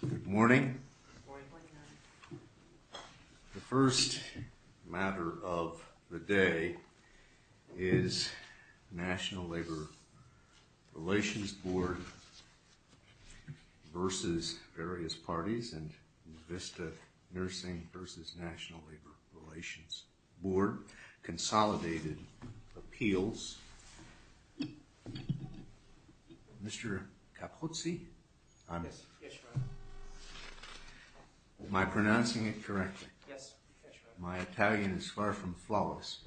Good morning. The first matter of the day is National Labor Relations Board v. Various Parties and New Vista Nursing v. National Labor Relations Board consolidated appeals. Mr. Capuzzi? Am I pronouncing it correctly? My Italian is far from flawless.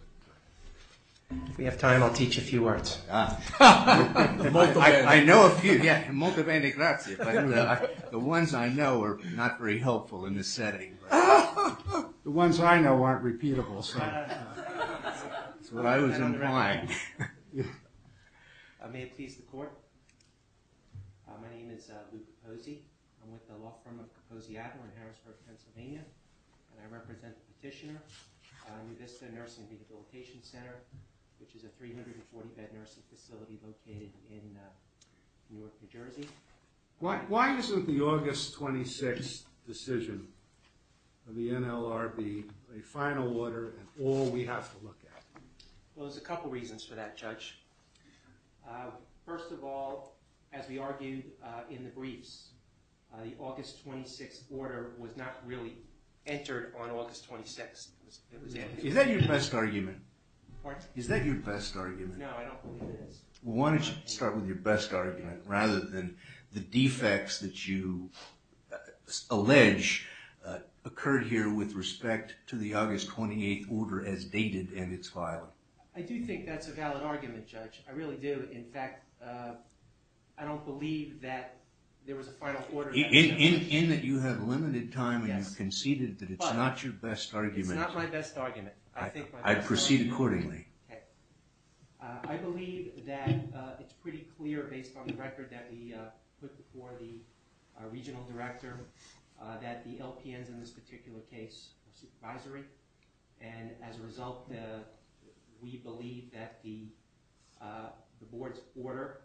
If we have time, I'll teach a few words. I know a few. The ones I know are not very helpful in this setting. The ones I know aren't repeatable, so that's what I was implying. May it please the court. My name is Luke Capuzzi. I'm with the law firm of Capuzzi Adler in Harrisburg, Pennsylvania. And I represent the petitioner, New Vista Nursing Rehabilitation Center, which is a 340-bed nursing facility located in Newark, New Jersey. Why isn't the August 26th decision of the NLRB a final order and all we have to look at? Well, there's a couple reasons for that, Judge. First of all, as we argued in the briefs, the August 26th order was not really entered on August 26th. Is that your best argument? Pardon? Is that your best argument? No, I don't believe it is. Well, why don't you start with your best argument rather than the defects that you allege occurred here with respect to the August 28th order as dated and its filing. I do think that's a valid argument, Judge. I really do. In fact, I don't believe that there was a final order. In that you have limited time and you've conceded that it's not your best argument. It's not my best argument. I'd proceed accordingly. Okay. I believe that it's pretty clear based on the record that we put before the regional director that the LPNs in this particular case are supervisory. And as a result, we believe that the board's order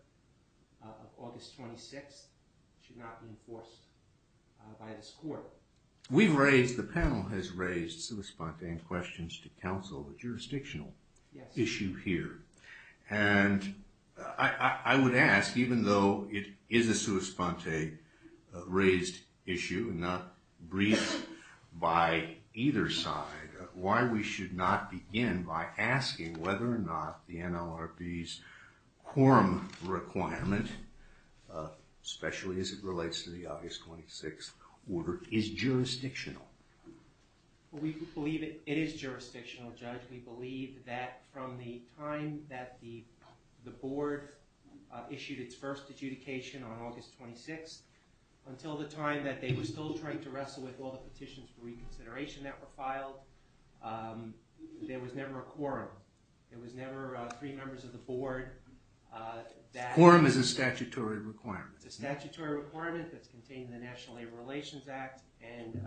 of August 26th should not be enforced by this court. So, we've raised, the panel has raised sui sponte and questions to counsel a jurisdictional issue here. And I would ask, even though it is a sui sponte raised issue, not briefed by either side, why we should not begin by asking whether or not the NLRB's quorum requirement, especially as it relates to the August 26th order, is jurisdictional. We believe it is jurisdictional, Judge. We believe that from the time that the board issued its first adjudication on August 26th until the time that they were still trying to wrestle with all the petitions for reconsideration that were filed, there was never a quorum. There was never three members of the board. A quorum is a statutory requirement. It's a statutory requirement that's contained in the National Labor Relations Act. And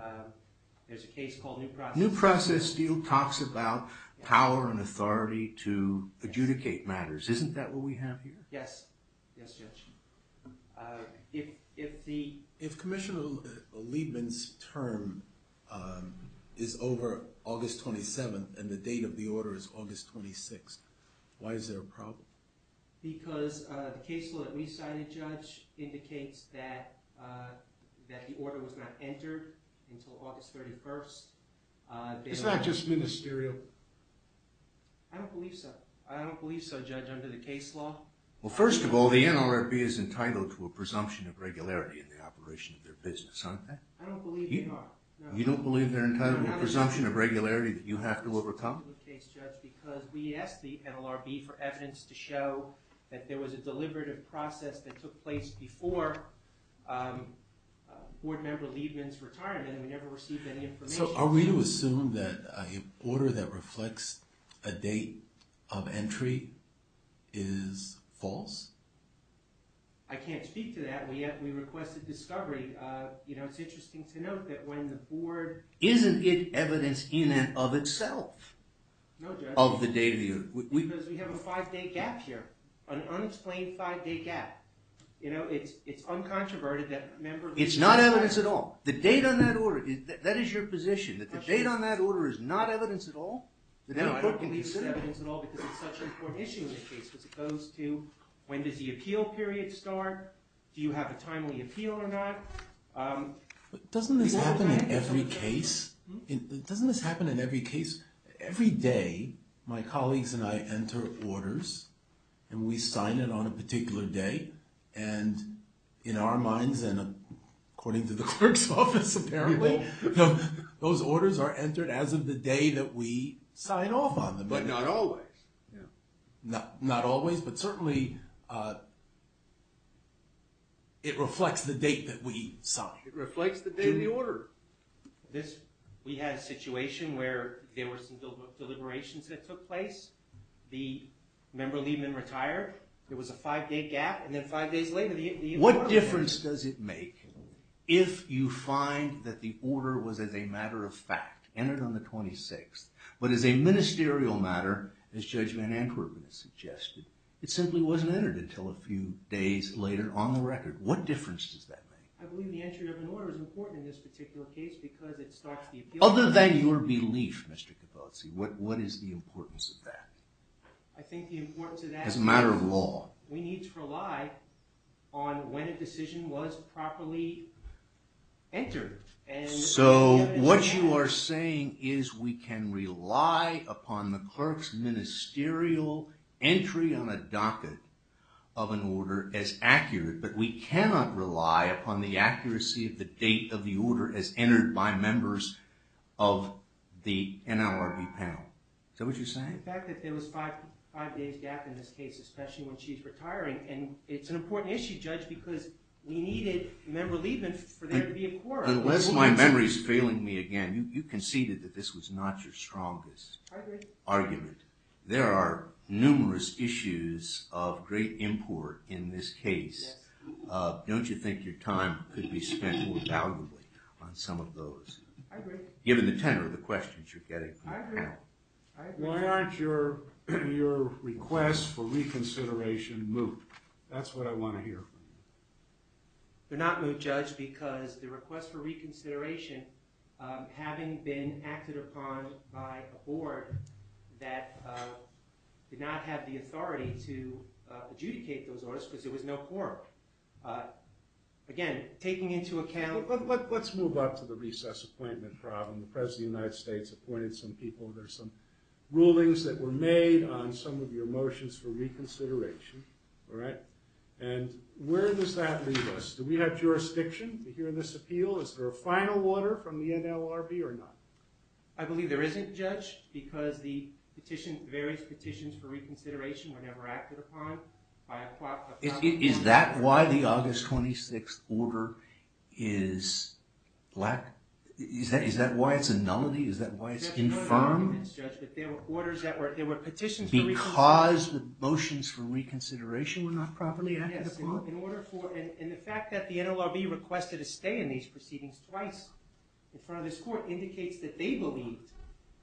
there's a case called New Process Steel. New Process Steel talks about power and authority to adjudicate matters. Isn't that what we have here? Yes. Yes, Judge. If Commissioner Liebman's term is over August 27th and the date of the order is August 26th, why is there a problem? Because the case law that we signed, Judge, indicates that the order was not entered until August 31st. It's not just ministerial. I don't believe so. I don't believe so, Judge, under the case law. Well, first of all, the NLRB is entitled to a presumption of regularity in the operation of their business, aren't they? I don't believe they are. You don't believe they're entitled to a presumption of regularity that you have to overcome? It's a complicated case, Judge, because we asked the NLRB for evidence to show that there was a deliberative process that took place before Board Member Liebman's retirement and we never received any information. So are we to assume that an order that reflects a date of entry is false? I can't speak to that. We requested discovery. It's interesting to note that when the Board… Isn't it evidence in and of itself? No, Judge. Of the date of the order. Because we have a five-day gap here, an unexplained five-day gap. It's uncontroverted that Member Liebman's retirement… It's not evidence at all. The date on that order, that is your position, that the date on that order is not evidence at all? No, I don't believe it's evidence at all because it's such an important issue in this case as opposed to when does the appeal period start? Do you have a timely appeal or not? But doesn't this happen in every case? Doesn't this happen in every case? Every day, my colleagues and I enter orders and we sign it on a particular day. And in our minds and according to the clerk's office, apparently, those orders are entered as of the day that we sign off on them. But not always. Not always, but certainly it reflects the date that we sign. It reflects the date of the order. We had a situation where there were some deliberations that took place. The Member Liebman retired. There was a five-day gap and then five days later… What difference does it make if you find that the order was as a matter of fact, entered on the 26th, but as a ministerial matter, as Judge Van Ankerman has suggested, it simply wasn't entered until a few days later on the record. What difference does that make? I believe the entry of an order is important in this particular case because it starts the appeal period. Other than your belief, Mr. Capozzi, what is the importance of that? I think the importance of that… As a matter of law. We need to rely on when a decision was properly entered. So what you are saying is we can rely upon the clerk's ministerial entry on a docket of an order as accurate, but we cannot rely upon the accuracy of the date of the order as entered by members of the NLRB panel. Is that what you're saying? The fact that there was a five-day gap in this case, especially when she's retiring, and it's an important issue, Judge, because we needed member leavements for there to be a quorum. Unless my memory is failing me again, you conceded that this was not your strongest argument. I agree. There are numerous issues of great import in this case. Yes. Don't you think your time could be spent more valuably on some of those? I agree. I agree. Why aren't your requests for reconsideration moot? That's what I want to hear from you. They're not moot, Judge, because the request for reconsideration, having been acted upon by a board that did not have the authority to adjudicate those orders because there was no quorum. Again, taking into account… Let's move up to the recess appointment problem. The President of the United States appointed some people. There are some rulings that were made on some of your motions for reconsideration. Where does that leave us? Do we have jurisdiction to hear this appeal? Is there a final order from the NLRB or not? I believe there isn't, Judge, because the various petitions for reconsideration were never acted upon. Is that why the August 26th order is black? Is that why it's a nullity? Is that why it's confirmed? There were petitions for reconsideration. Because the motions for reconsideration were not properly acted upon? Yes. And the fact that the NLRB requested a stay in these proceedings twice in front of this court indicates that they believed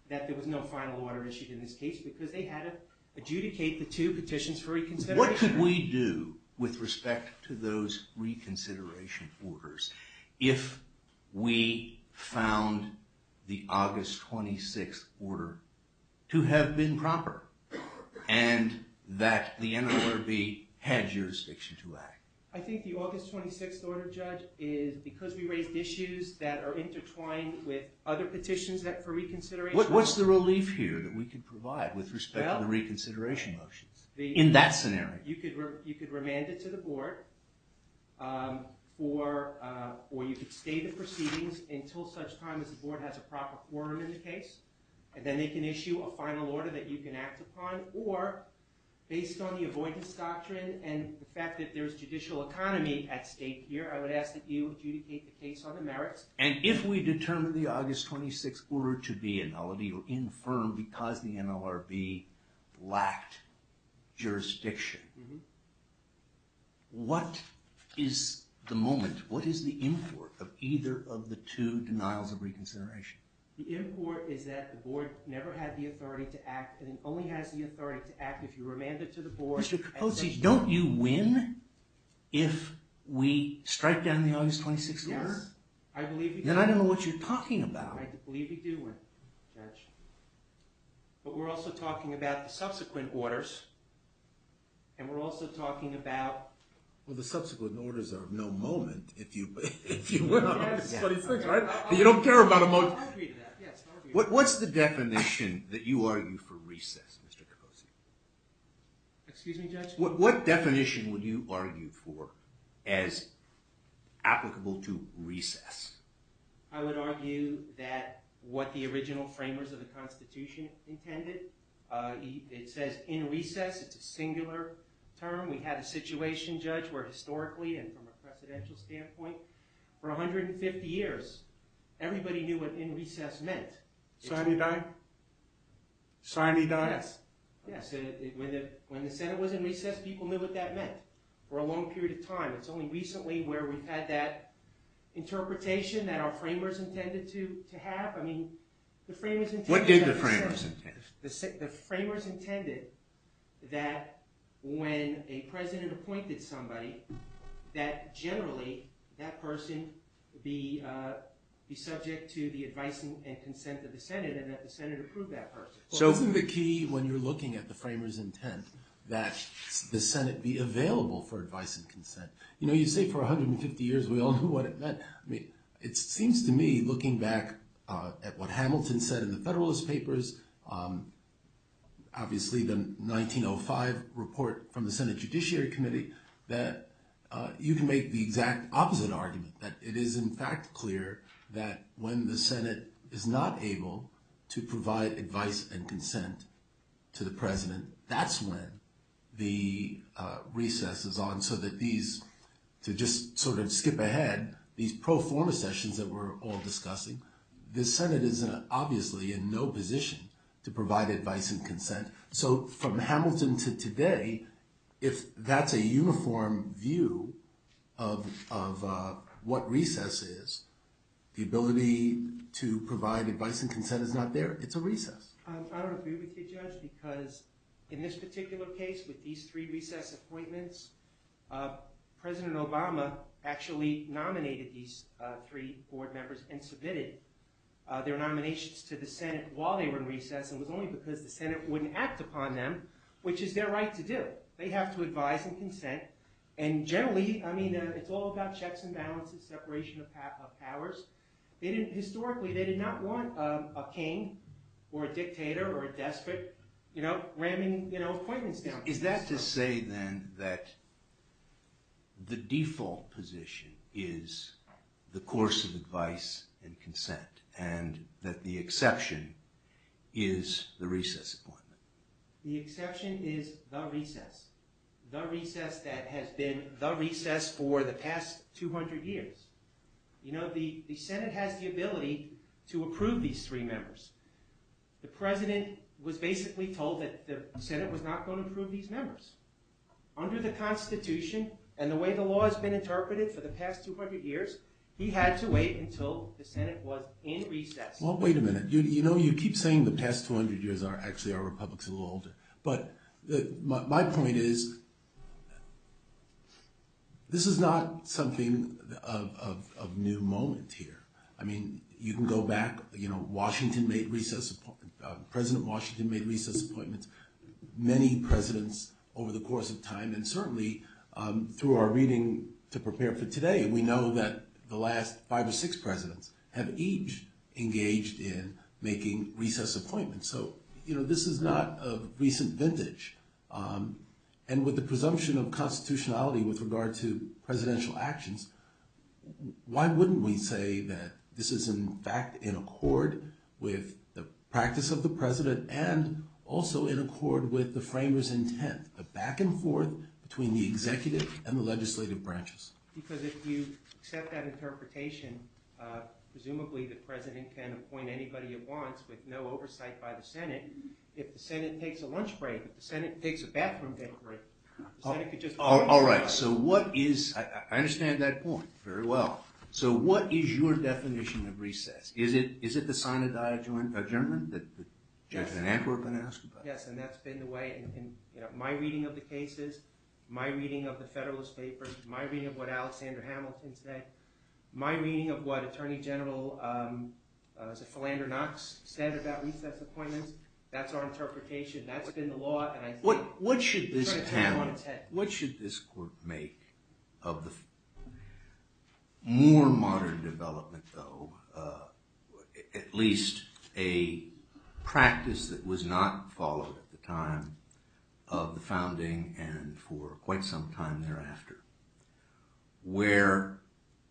that there was no final order issued in this case because they had to adjudicate the two petitions for reconsideration. What could we do with respect to those reconsideration orders if we found the August 26th order to have been proper and that the NLRB had jurisdiction to act? I think the August 26th order, Judge, is because we raised issues that are intertwined with other petitions for reconsideration. What's the relief here that we could provide with respect to the reconsideration motions in that scenario? You could remand it to the board or you could stay the proceedings until such time as the board has a proper quorum in the case and then they can issue a final order that you can act upon or, based on the avoidance doctrine and the fact that there's judicial economy at stake here, I would ask that you adjudicate the case on the merits. And if we determine the August 26th order to be a nullity or infirm because the NLRB lacked jurisdiction, what is the moment, what is the import of either of the two denials of reconsideration? The import is that the board never had the authority to act and it only has the authority to act if you remand it to the board. Mr. Capozzi, don't you win if we strike down the August 26th order? Yes, I believe we do. Then I don't know what you're talking about. I believe we do win, Judge. But we're also talking about the subsequent orders and we're also talking about... Well, the subsequent orders are of no moment if you win on August 26th, right? You don't care about a moment. What's the definition that you argue for recess, Mr. Capozzi? Excuse me, Judge? What definition would you argue for as applicable to recess? I would argue that what the original framers of the Constitution intended. It says in recess, it's a singular term. We had a situation, Judge, where historically and from a presidential standpoint, for 150 years, everybody knew what in recess meant. Sine die? Sine die? Yes. When the Senate was in recess, people knew what that meant for a long period of time. It's only recently where we've had that interpretation that our framers intended to have. What did the framers intend? The framers intended that when a president appointed somebody, that generally that person be subject to the advice and consent of the Senate and that the Senate approve that person. Isn't the key when you're looking at the framers' intent that the Senate be available for advice and consent? You say for 150 years we all knew what it meant. It seems to me, looking back at what Hamilton said in the Federalist Papers, obviously the 1905 report from the Senate Judiciary Committee, that you can make the exact opposite argument, that it is in fact clear that when the Senate is not able to provide advice and consent to the president, that's when the recess is on so that these, to just sort of skip ahead, these pro forma sessions that we're all discussing, the Senate is obviously in no position to provide advice and consent. So from Hamilton to today, if that's a uniform view of what recess is, the ability to provide advice and consent is not there. It's a recess. I don't agree with you, Judge, because in this particular case with these three recess appointments, President Obama actually nominated these three board members and submitted their nominations to the Senate while they were in recess and it was only because the Senate wouldn't act upon them, which is their right to do. They have to advise and consent. And generally, I mean, it's all about checks and balances, separation of powers. Historically, they did not want a king or a dictator or a despot ramming appointments down. Is that to say then that the default position is the course of advice and consent and that the exception is the recess appointment? The exception is the recess. The recess that has been the recess for the past 200 years. You know, the Senate has the ability to approve these three members. The President was basically told that the Senate was not going to approve these members. Under the Constitution and the way the law has been interpreted for the past 200 years, he had to wait until the Senate was in recess. Well, wait a minute. You know, you keep saying the past 200 years are actually our republics a little older, but my point is this is not something of new moment here. I mean, you can go back. You know, Washington made recess appointments. President Washington made recess appointments. Many presidents over the course of time and certainly through our reading to prepare for today, we know that the last five or six presidents have each engaged in making recess appointments. So, you know, this is not a recent vintage. And with the presumption of constitutionality with regard to presidential actions, why wouldn't we say that this is, in fact, in accord with the practice of the President the back and forth between the executive and the legislative branches? Because if you accept that interpretation, presumably the President can appoint anybody he wants with no oversight by the Senate. If the Senate takes a lunch break, if the Senate takes a bathroom break, the Senate could just. All right. So what is... I understand that point very well. So what is your definition of recess? Is it the sign of die adjournment that the judge and anchor have been asked about? Yes, and that's been the way in my reading of the cases, my reading of the Federalist Papers, my reading of what Alexander Hamilton said, my reading of what Attorney General Philander Knox said about recess appointments. That's our interpretation. That's been the law. What should this panel, what should this court make of the more modern development, though, at least a practice that was not followed at the time of the founding and for quite some time thereafter, where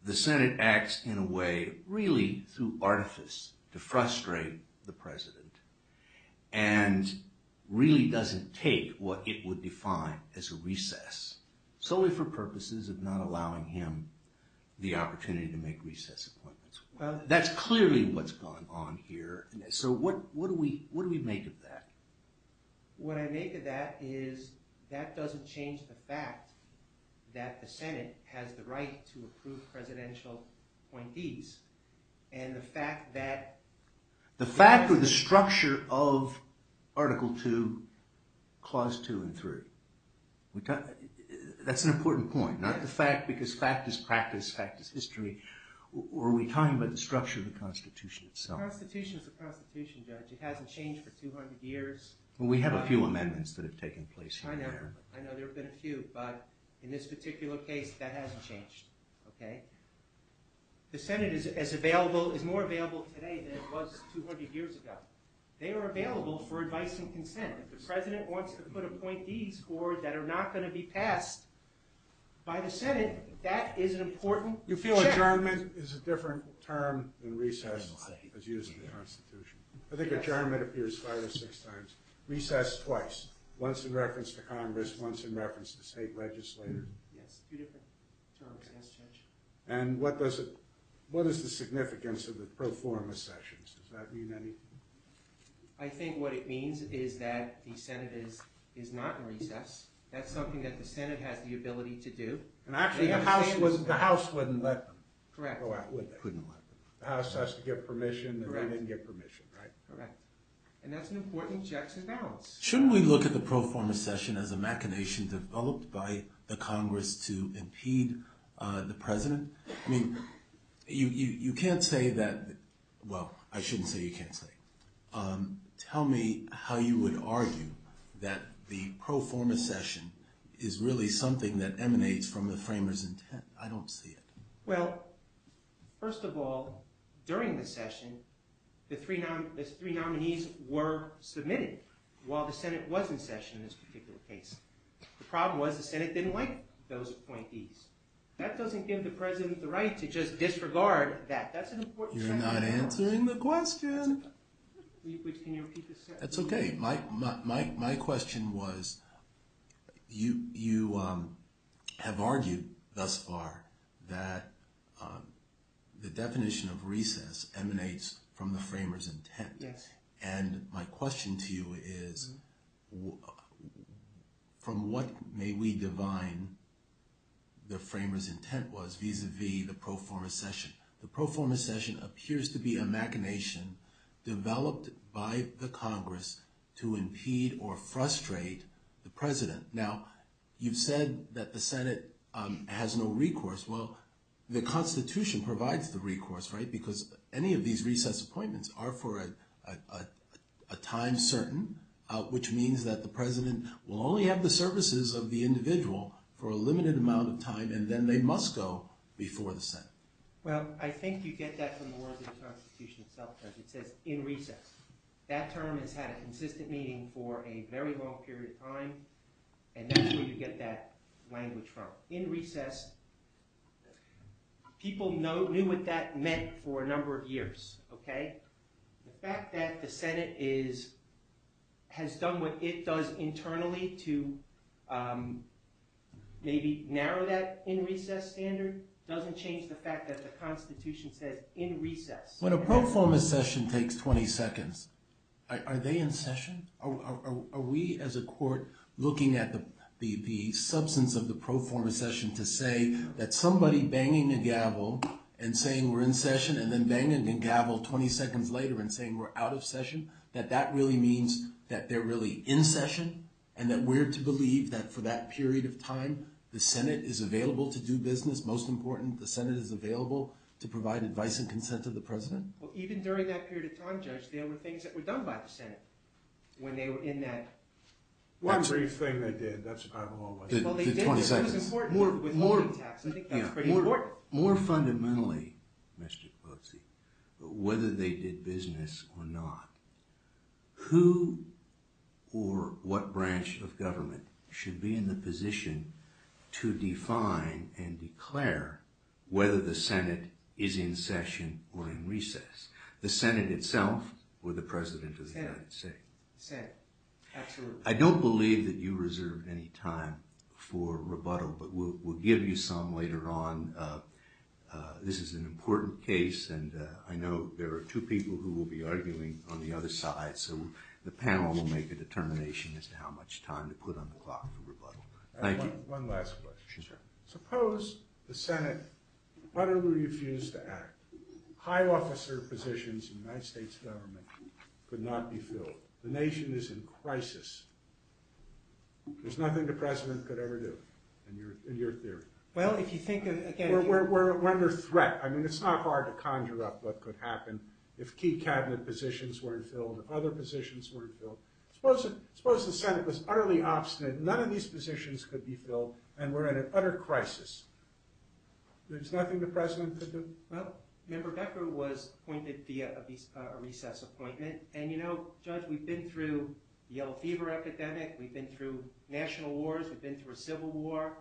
the Senate acts in a way really through artifice to frustrate the President and really doesn't take what it would define as a recess solely for purposes of not allowing him the opportunity to make recess appointments? Well... That's clearly what's going on here. So what do we make of that? What I make of that is that doesn't change the fact that the Senate has the right to approve presidential appointees and the fact that... The fact or the structure of Article II, Clause 2 and 3. That's an important point, not the fact because fact is practice, fact is history, or are we talking about the structure of the Constitution itself? The Constitution is the Constitution, Judge. It hasn't changed for 200 years. Well, we have a few amendments that have taken place here. I know. I know there have been a few, but in this particular case, that hasn't changed, okay? The Senate is more available today than it was 200 years ago. They are available for advice and consent. If the President wants to put appointees forward that are not going to be passed by the Senate, that is an important... You feel adjournment is a different term than recess as used in the Constitution? I think adjournment appears five or six times. Recess twice, once in reference to Congress, once in reference to the state legislature. Yes, two different terms, yes, Judge. And what is the significance of the pro forma sessions? Does that mean anything? I think what it means is that the Senate is not in recess. That's something that the Senate has the ability to do. And actually, the House wouldn't let them go out, would they? Correct. Couldn't let them. The House has to give permission, and they didn't give permission, right? Correct. And that's an important objection balance. Shouldn't we look at the pro forma session as a machination developed by the Congress to impede the President? I mean, you can't say that... well, I shouldn't say you can't say. Tell me how you would argue that the pro forma session is really something that emanates from the framers' intent. I don't see it. Well, first of all, during the session, the three nominees were submitted while the Senate was in session in this particular case. The problem was the Senate didn't like those appointees. That doesn't give the President the right to just disregard that. That's an important point. You're not answering the question. Can you repeat the question? That's okay. My question was, you have argued thus far that the definition of recess emanates from the framers' intent. Yes. And my question to you is, from what may we divine the framers' intent was vis-à-vis the pro forma session? The pro forma session appears to be a machination developed by the Congress to impede or frustrate the President. Now, you've said that the Senate has no recourse. Well, the Constitution provides the recourse, right, because any of these recess appointments are for a time certain, which means that the President will only have the services of the individual for a limited amount of time, and then they must go before the Senate. Well, I think you get that from the words of the Constitution itself, because it says in recess. That term has had a consistent meaning for a very long period of time, and that's where you get that language from. In recess, people knew what that meant for a number of years, okay? The fact that the Senate has done what it does internally to maybe narrow that in recess standard doesn't change the fact that the Constitution says in recess. When a pro forma session takes 20 seconds, are they in session? Are we as a court looking at the substance of the pro forma session to say that somebody banging the gavel and saying we're in session, and then banging the gavel 20 seconds later and saying we're out of session, that that really means that they're really in session, and that we're to believe that for that period of time, the Senate is available to do business. Most important, the Senate is available to provide advice and consent to the President. Well, even during that period of time, Judge, there were things that were done by the Senate when they were in that. One brief thing they did. That's probably a long one. The 20 seconds. Well, they did, but it was important with voting tax. I think that was pretty important. More fundamentally, Mr. Pelosi, whether they did business or not, who or what branch of government should be in the position to define and declare whether the Senate is in session or in recess? The Senate itself or the President of the United States? The Senate. Absolutely. I don't believe that you reserve any time for rebuttal, but we'll give you some later on. This is an important case, and I know there are two people who will be arguing on the other side, so the panel will make a determination as to how much time to put on the clock for rebuttal. Thank you. One last question. Yes, sir. Suppose the Senate utterly refused to act. High officer positions in the United States government could not be filled. The nation is in crisis. There's nothing the President could ever do, in your theory. Well, if you think of— We're under threat. I mean, it's not hard to conjure up what could happen if key Cabinet positions weren't filled, if other positions weren't filled. Suppose the Senate was utterly obstinate. None of these positions could be filled, and we're in an utter crisis. There's nothing the President could do? Well, Member Becker was appointed via a recess appointment, and, you know, Judge, we've been through the Yellow Fever epidemic, we've been through national wars, we've been through a civil war,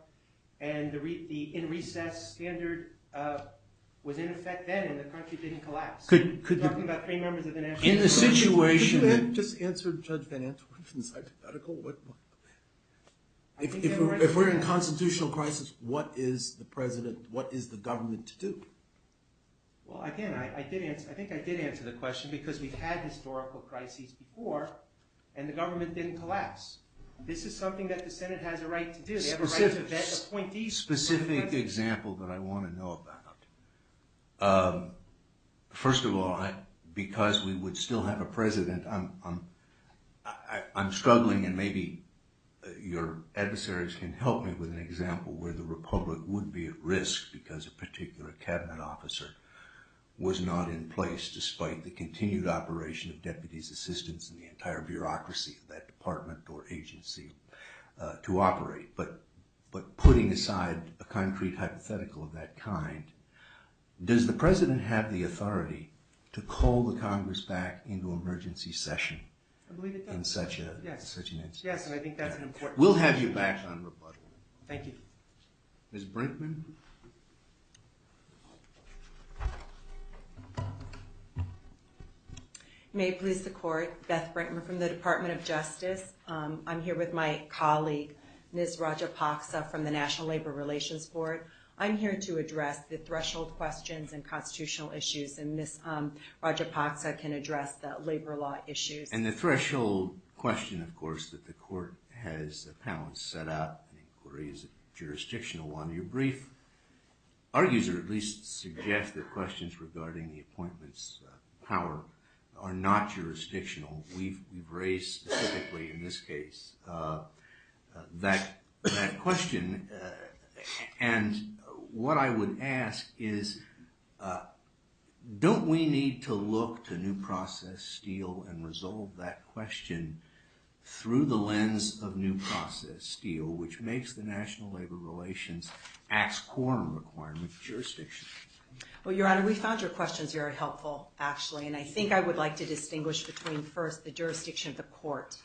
and the in-recess standard was in effect then, and the country didn't collapse. Could you— We're talking about three members of the national— In a situation that— Could you just answer Judge Van Antwerpen's hypothetical? If we're in a constitutional crisis, what is the President, what is the government to do? Well, again, I think I did answer the question because we've had historical crises before, and the government didn't collapse. This is something that the Senate has a right to do. They have a right to vet appointees. Specific example that I want to know about. First of all, because we would still have a President, I'm struggling, and maybe your adversaries can help me with an example where the Republic would be at risk because a particular cabinet officer was not in place despite the continued operation of deputies' assistants and the entire bureaucracy of that department or agency to operate. But putting aside a concrete hypothetical of that kind, does the President have the authority to call the Congress back into emergency session? I believe he does. In such an instance. Yes, and I think that's an important— We'll have you back on rebuttal. Thank you. Ms. Brinkman? May it please the Court, Beth Brinkman from the Department of Justice. I'm here with my colleague, Ms. Raja Paksa from the National Labor Relations Board. I'm here to address the threshold questions and constitutional issues, and Ms. Raja Paksa can address the labor law issues. And the threshold question, of course, that the Court has set up, an inquiry, is it jurisdictional? On your brief, our user at least suggests that questions regarding the appointment's power are not jurisdictional. We've raised specifically in this case that question, and what I would ask is, don't we need to look to New Process Steel and resolve that question through the lens of New Process Steel, which makes the National Labor Relations Act's core requirement jurisdictional? Well, Your Honor, we found your questions very helpful, actually, and I think I would like to distinguish between, first, the jurisdiction of the Court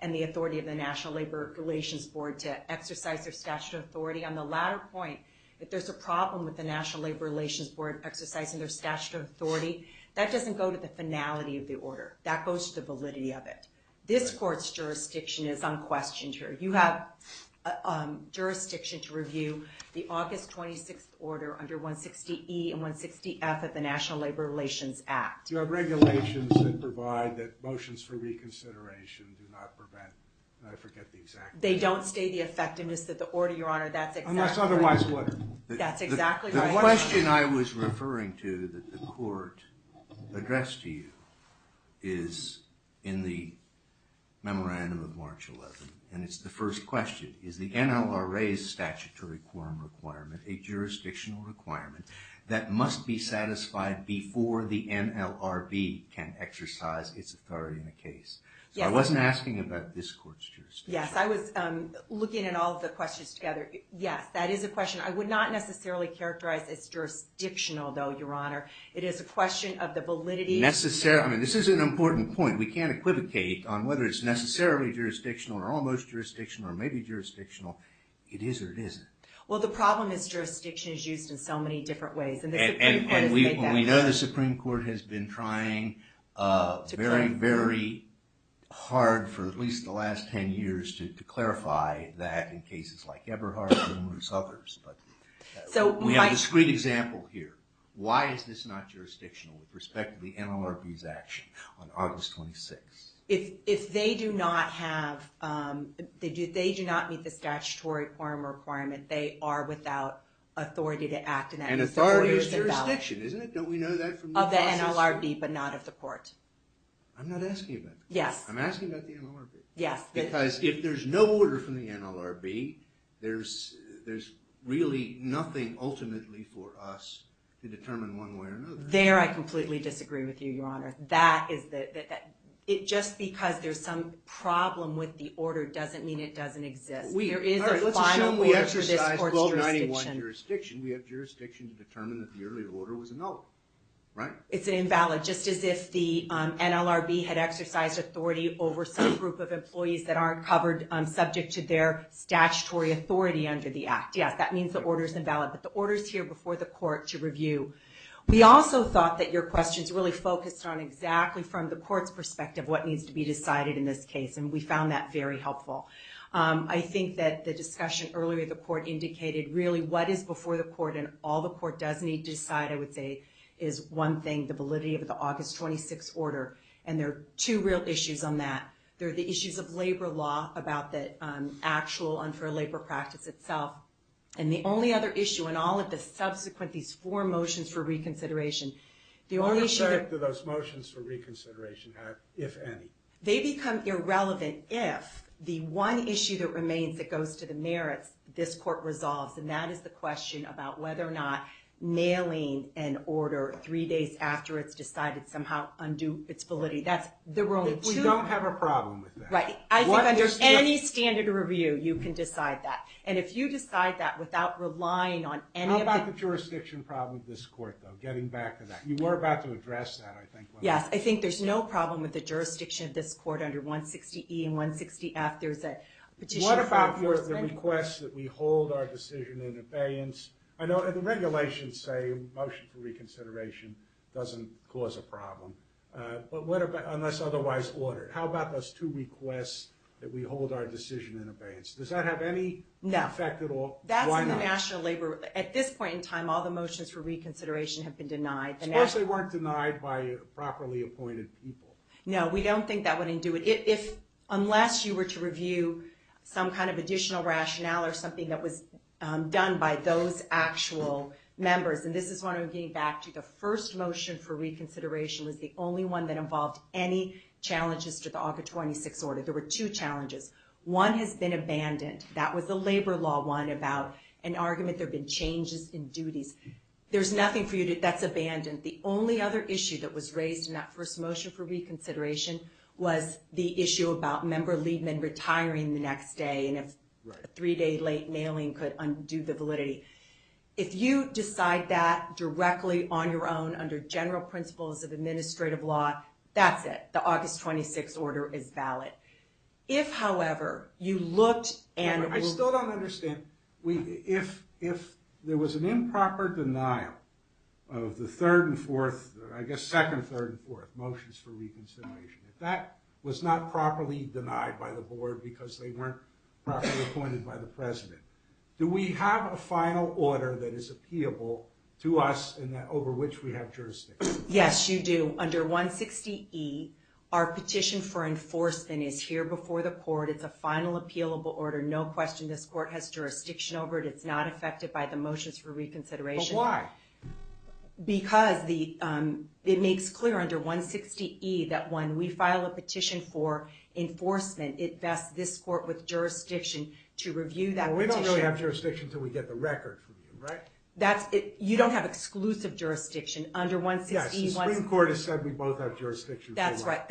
and the authority of the National Labor Relations Board to exercise their statutory authority. On the latter point, if there's a problem with the National Labor Relations Board exercising their statutory authority, that doesn't go to the finality of the order. That goes to the validity of it. This Court's jurisdiction is unquestioned here. You have jurisdiction to review the August 26th order under 160E and 160F of the National Labor Relations Act. You have regulations that provide that motions for reconsideration do not prevent, I forget the exact term. They don't stay the effectiveness of the order, Your Honor, that's exactly right. Unless otherwise what? That's exactly right. The question I was referring to that the Court addressed to you is in the memorandum of March 11th, and it's the first question. Is the NLRA's statutory quorum requirement a jurisdictional requirement that must be satisfied before the NLRB can exercise its authority in a case? Yes. So I wasn't asking about this Court's jurisdiction. Yes, I was looking at all of the questions together. Yes, that is a question. I would not necessarily characterize as jurisdictional, though, Your Honor. It is a question of the validity. This is an important point. We can't equivocate on whether it's necessarily jurisdictional or almost jurisdictional or maybe jurisdictional. It is or it isn't. Well, the problem is jurisdiction is used in so many different ways. And we know the Supreme Court has been trying very, very hard for at least the last 10 years to clarify that in cases like Eberhardt and numerous others. We have a discreet example here. Why is this not jurisdictional with respect to the NLRB's action on August 26th? If they do not meet the statutory quorum requirement, they are without authority to act in that case. And authority is jurisdiction, isn't it? Don't we know that from the process? Of the NLRB, but not of the Court. I'm not asking about that. Yes. I'm asking about the NLRB. Yes. Because if there's no order from the NLRB, there's really nothing ultimately for us to determine one way or another. There I completely disagree with you, Your Honor. Just because there's some problem with the order doesn't mean it doesn't exist. All right. Let's assume we exercise 1291 jurisdiction. We have jurisdiction to determine that the earlier order was a no. Right? It's an invalid. Just as if the NLRB had exercised authority over some group of employees that aren't covered subject to their statutory authority under the Act. Yes. That means the order's invalid. But the order's here before the Court to review. We also thought that your questions really focused on exactly, from the Court's perspective, what needs to be decided in this case. And we found that very helpful. I think that the discussion earlier, the Court indicated, really, what is before the Court and all the Court does need to decide, I would say, is one thing, the validity of the August 26 order. And there are two real issues on that. There are the issues of labor law about the actual unfair labor practice itself. And the only other issue, and all of the subsequent, these four motions for reconsideration, the only issue that- What effect do those motions for reconsideration have, if any? They become irrelevant if the one issue that remains, that goes to the merits, this Court resolves. And that is the question about whether or not nailing an order three days after it's decided, somehow, undo its validity. We don't have a problem with that. Right. I think under any standard review, you can decide that. And if you decide that without relying on any of- How about the jurisdiction problem with this Court, though? Getting back to that. You were about to address that, I think, wasn't you? Yes. I think there's no problem with the jurisdiction of this Court under 160E and 160F. There's a petition- What about the request that we hold our decision in abeyance? I know the regulations say motion for reconsideration doesn't cause a problem. But what about, unless otherwise ordered, how about those two requests that we hold our decision in abeyance? Does that have any effect at all? No. Why not? That's in the national labor- At this point in time, all the motions for reconsideration have been denied. Unless they weren't denied by properly appointed people. No, we don't think that wouldn't do it. Unless you were to review some kind of additional rationale or something that was done by those actual members, and this is when I'm getting back to the first motion for reconsideration was the only one that involved any challenges to the Aug. 26 order. There were two challenges. One has been abandoned. That was the labor law one about an argument there have been changes in duties. There's nothing for you that's abandoned. The only other issue that was raised in that first motion for reconsideration was the issue about member lead men retiring the next day and if a three-day late mailing could undo the validity. If you decide that directly on your own under general principles of administrative law, that's it. The Aug. 26 order is valid. If, however, you looked and- I still don't understand. If there was an improper denial of the third and fourth, I guess second, third, and fourth motions for reconsideration, if that was not properly denied by the board because they weren't properly appointed by the president, do we have a final order that is appealable to us and over which we have jurisdiction? Yes, you do. Under 160E, our petition for enforcement is here before the court. It's a final appealable order. No question this court has jurisdiction over it. It's not affected by the motions for reconsideration. But why? Because it makes clear under 160E that when we file a petition for enforcement, it vests this court with jurisdiction to review that petition. We don't really have jurisdiction until we get the record from you, right? You don't have exclusive jurisdiction under 160E. Yes, the Supreme Court has said we both have jurisdiction. That's right.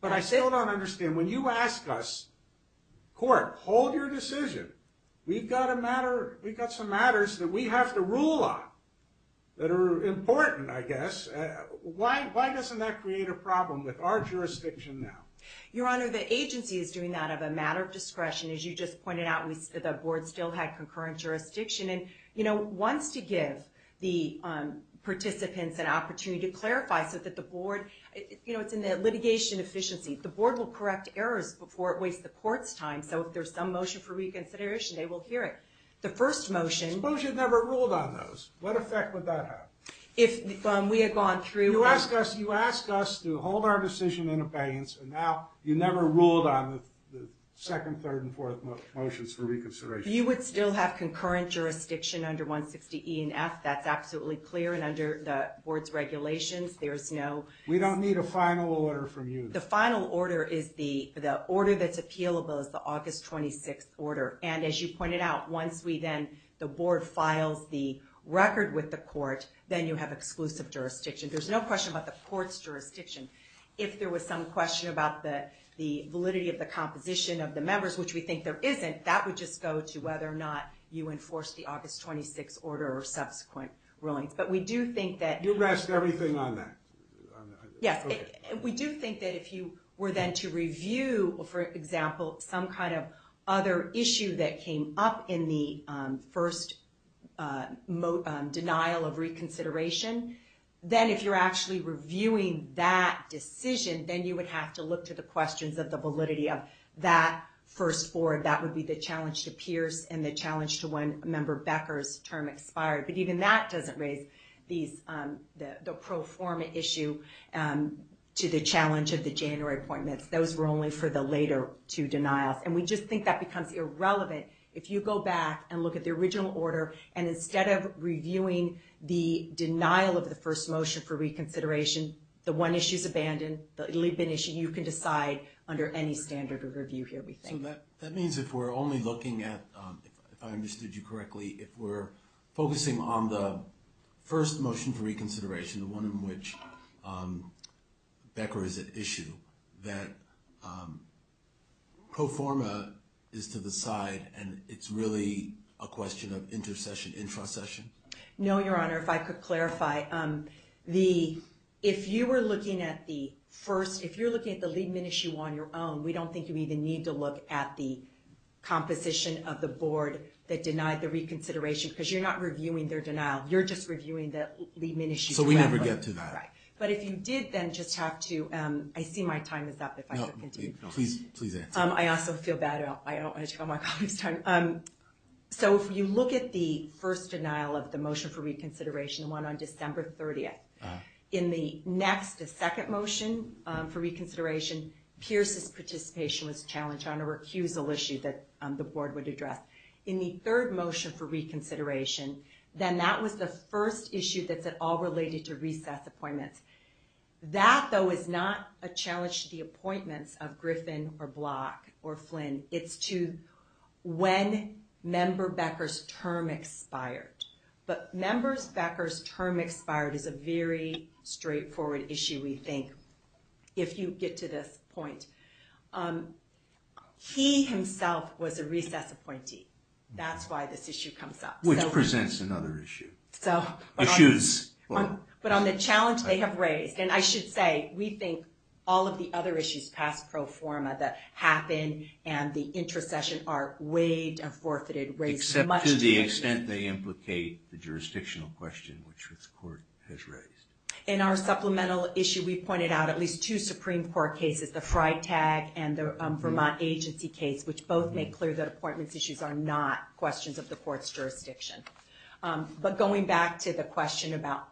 But I still don't understand. When you ask us, court, hold your decision. We've got some matters that we have to rule on that are important, I guess. Why doesn't that create a problem with our jurisdiction now? Your Honor, the agency is doing that out of a matter of discretion. As you just pointed out, the board still had concurrent jurisdiction. And wants to give the participants an opportunity to clarify so that the board, you know, it's in the litigation efficiency. The board will correct errors before it wastes the court's time. So if there's some motion for reconsideration, they will hear it. The first motion... Suppose you never ruled on those. What effect would that have? If we had gone through... You asked us to hold our decision in abeyance, and now you never ruled on the second, third, and fourth motions for reconsideration. You would still have concurrent jurisdiction under 160E and F. That's absolutely clear. And under the board's regulations, there's no... We don't need a final order from you. The final order is the... The order that's appealable is the August 26th order. And as you pointed out, once we then... The board files the record with the court, then you have exclusive jurisdiction. There's no question about the court's jurisdiction. If there was some question about the validity of the composition of the members, which we think there isn't, that would just go to whether or not you enforced the August 26th order or subsequent rulings. But we do think that... You've asked everything on that. Yes. We do think that if you were then to review, for example, some kind of other issue that came up in the first denial of reconsideration, then if you're actually reviewing that decision, then you would have to look to the questions of the validity of that first forward. That would be the challenge to Pierce and the challenge to when Member Becker's term expired. But even that doesn't raise the pro forma issue to the challenge of the January appointments. Those were only for the later two denials. And we just think that becomes irrelevant if you go back and look at the original order. And instead of reviewing the denial of the first motion for reconsideration, the one issue's abandoned. You can decide under any standard of review here, we think. So that means if we're only looking at, if I understood you correctly, if we're focusing on the first motion for reconsideration, the one in which Becker is at issue, that pro forma is to the side and it's really a question of intercession, intrasession? No, Your Honor. If I could clarify. If you were looking at the first... If you're looking at the Liebman issue on your own, we don't think you even need to look at the composition of the board that denied the reconsideration, because you're not reviewing their denial. You're just reviewing the Liebman issue. So we never get to that. Right. But if you did, then just have to... I see my time is up. No, please answer. I also feel bad. I don't want to take all my colleagues' time. So if you look at the first denial of the motion for reconsideration, the one on December 30th, in the next, the second motion for reconsideration, Pierce's participation was challenged on a recusal issue that the board would address. In the third motion for reconsideration, then that was the first issue that's at all related to recess appointments. That, though, is not a challenge to the appointments of Griffin or Block or Flynn. It's to when Member Becker's term expired. But Member Becker's term expired is a very straightforward issue, we think, if you get to this point. He himself was a recess appointee. That's why this issue comes up. Which presents another issue. So... Issues... But on the challenge they have raised, and I should say, we think all of the other issues past pro forma that happened and the intercession are waived and forfeited, raised much... Except to the extent they implicate the jurisdictional question, which this court has raised. In our supplemental issue, we pointed out at least two Supreme Court cases, the Freitag and the Vermont Agency case, which both make clear that appointments issues are not questions of the court's jurisdiction. But going back to the question about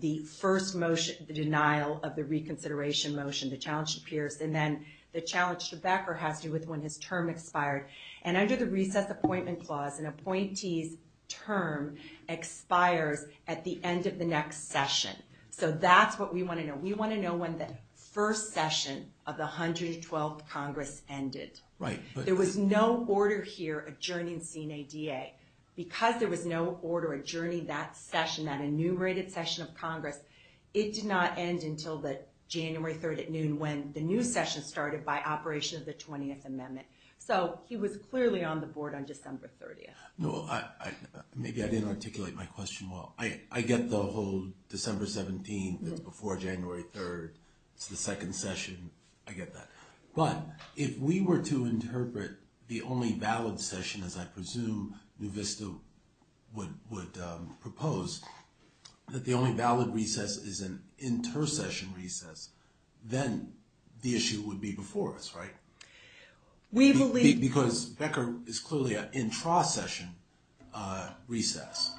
the first motion, the denial of the reconsideration motion, the challenge to Pierce, and then the challenge to Becker has to do with when his term expired. And under the recess appointment clause, an appointee's term expires at the end of the next session. So that's what we want to know. We want to know when the first session of the 112th Congress ended. Right. There was no order here adjourning Senate DA. Because there was no order adjourning that session, that enumerated session of Congress, it did not end until the January 3rd at noon when the new session started by operation of the 20th Amendment. So he was clearly on the board on December 30th. Maybe I didn't articulate my question well. I get the whole December 17th is before January 3rd. It's the second session. I get that. But if we were to interpret the only valid session, as I presume New Vista would propose, that the only valid recess is an inter-session recess, then the issue would be before us, right? We believe... Because Becker is clearly an intra-session recess.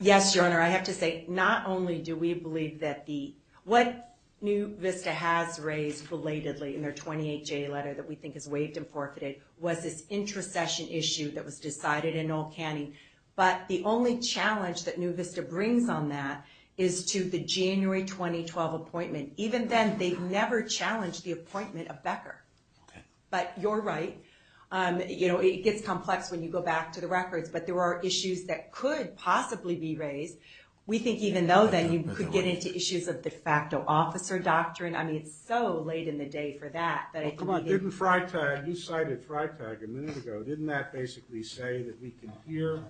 Yes, Your Honor. I have to say, not only do we believe that the... What New Vista has raised belatedly in their 28-J letter that we think is waived and forfeited was this intra-session issue that was decided in old canning. But the only challenge that New Vista brings on that is to the January 2012 appointment. Even then, they've never challenged the appointment of Becker. But you're right. It gets complex when you go back to the records. But there are issues that could possibly be raised. We think even though, then, you could get into issues of de facto officer doctrine. I mean, it's so late in the day for that. Well, come on. Didn't Freitag... You cited Freitag a minute ago. Didn't that basically say that we can here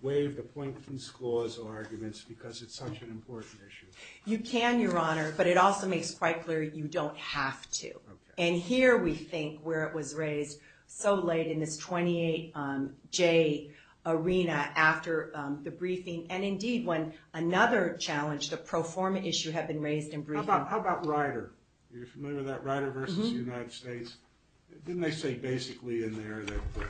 waive the appointee's clause or arguments because it's such an important issue? You can, Your Honor. But it also makes quite clear you don't have to. And here, we think, where it was raised so late in this 28-J arena after the briefing. And indeed, when another challenge, the pro forma issue, had been raised in briefing. How about Ryder? Are you familiar with that? Ryder versus the United States? Didn't they say basically in there that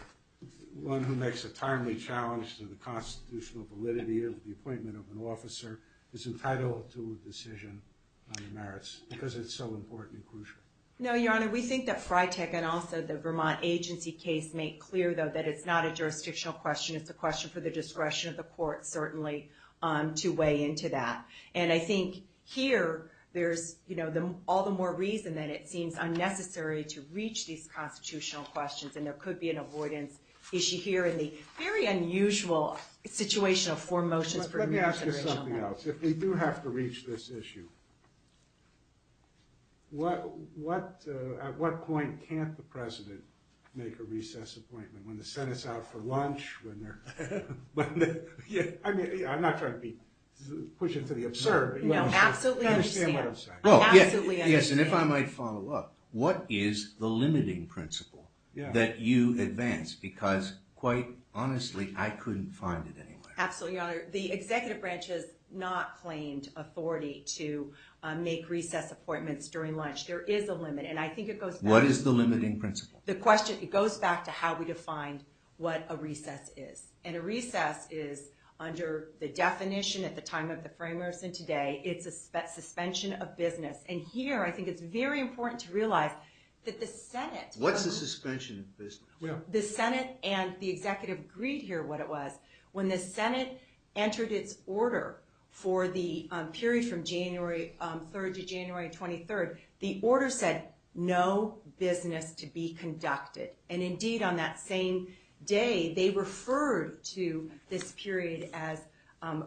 one who makes a timely challenge to the constitutional validity of the appointment of an officer is entitled to a decision on the merits because it's so important and crucial? No, Your Honor. We think that Freitag and also the Vermont agency case make clear, though, that it's not a jurisdictional question. It's a question for the discretion of the court, certainly, to weigh into that. And I think here, there's all the more reason that it seems unnecessary to reach these constitutional questions. And there could be an avoidance issue here in the very unusual situation of four motions for remuneration. Let me ask you something else. If we do have to reach this issue, at what point can't the president make a recess appointment? When the Senate's out for lunch? I'm not trying to push it to the absurd. No, absolutely understand. I understand what I'm saying. Yes, and if I might follow up, what is the limiting principle that you advance? Because quite honestly, I couldn't find it anywhere. Absolutely, Your Honor. The executive branch has not claimed authority to make recess appointments during lunch. There is a limit, and I think it goes back to... What is the limiting principle? The question, it goes back to how we defined what a recess is. And a recess is, under the definition at the time of the framers and today, it's a suspension of business. And here, I think it's very important to realize that the Senate... What's a suspension of business? The Senate and the executive agreed here what it was. When the Senate entered its order for the period from January 3rd to January 23rd, the order said no business to be conducted. And indeed, on that same day, they referred to this period as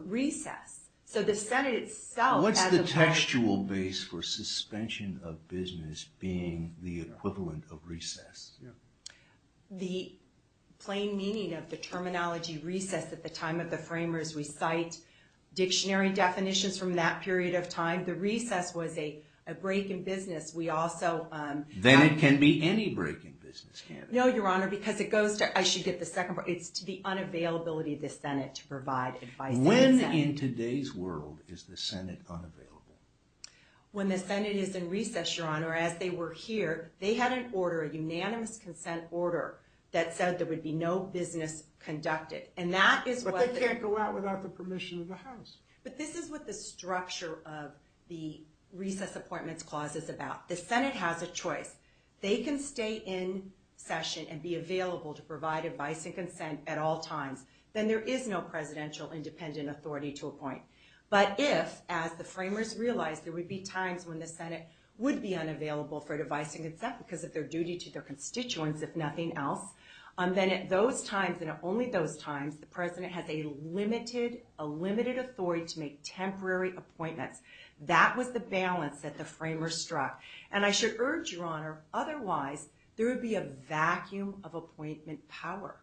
recess. So the Senate itself... What's the textual base for suspension of business being the equivalent of recess? The plain meaning of the terminology recess at the time of the framers, we cite dictionary definitions from that period of time. The recess was a break in business. We also... Then it can be any break in business, can't it? No, Your Honor, because it goes to... I should get the second part. It's to the unavailability of the Senate to provide advice to the Senate. When in today's world is the Senate unavailable? When the Senate is in recess, Your Honor, as they were here, they had an order, a unanimous consent order, that said there would be no business conducted. And that is what... But they can't go out without the permission of the House. But this is what the structure of the recess appointments clause is about. The Senate has a choice. They can stay in session and be available to provide advice and consent at all times. Then there is no presidential independent authority to appoint. But if, as the framers realized, there would be times when the Senate would be unavailable for advice and consent because of their duty to their constituents, if nothing else, then at those times, and at only those times, the President has a limited authority to make temporary appointments. That was the balance that the framers struck. And I should urge, Your Honor, otherwise there would be a vacuum of appointment power.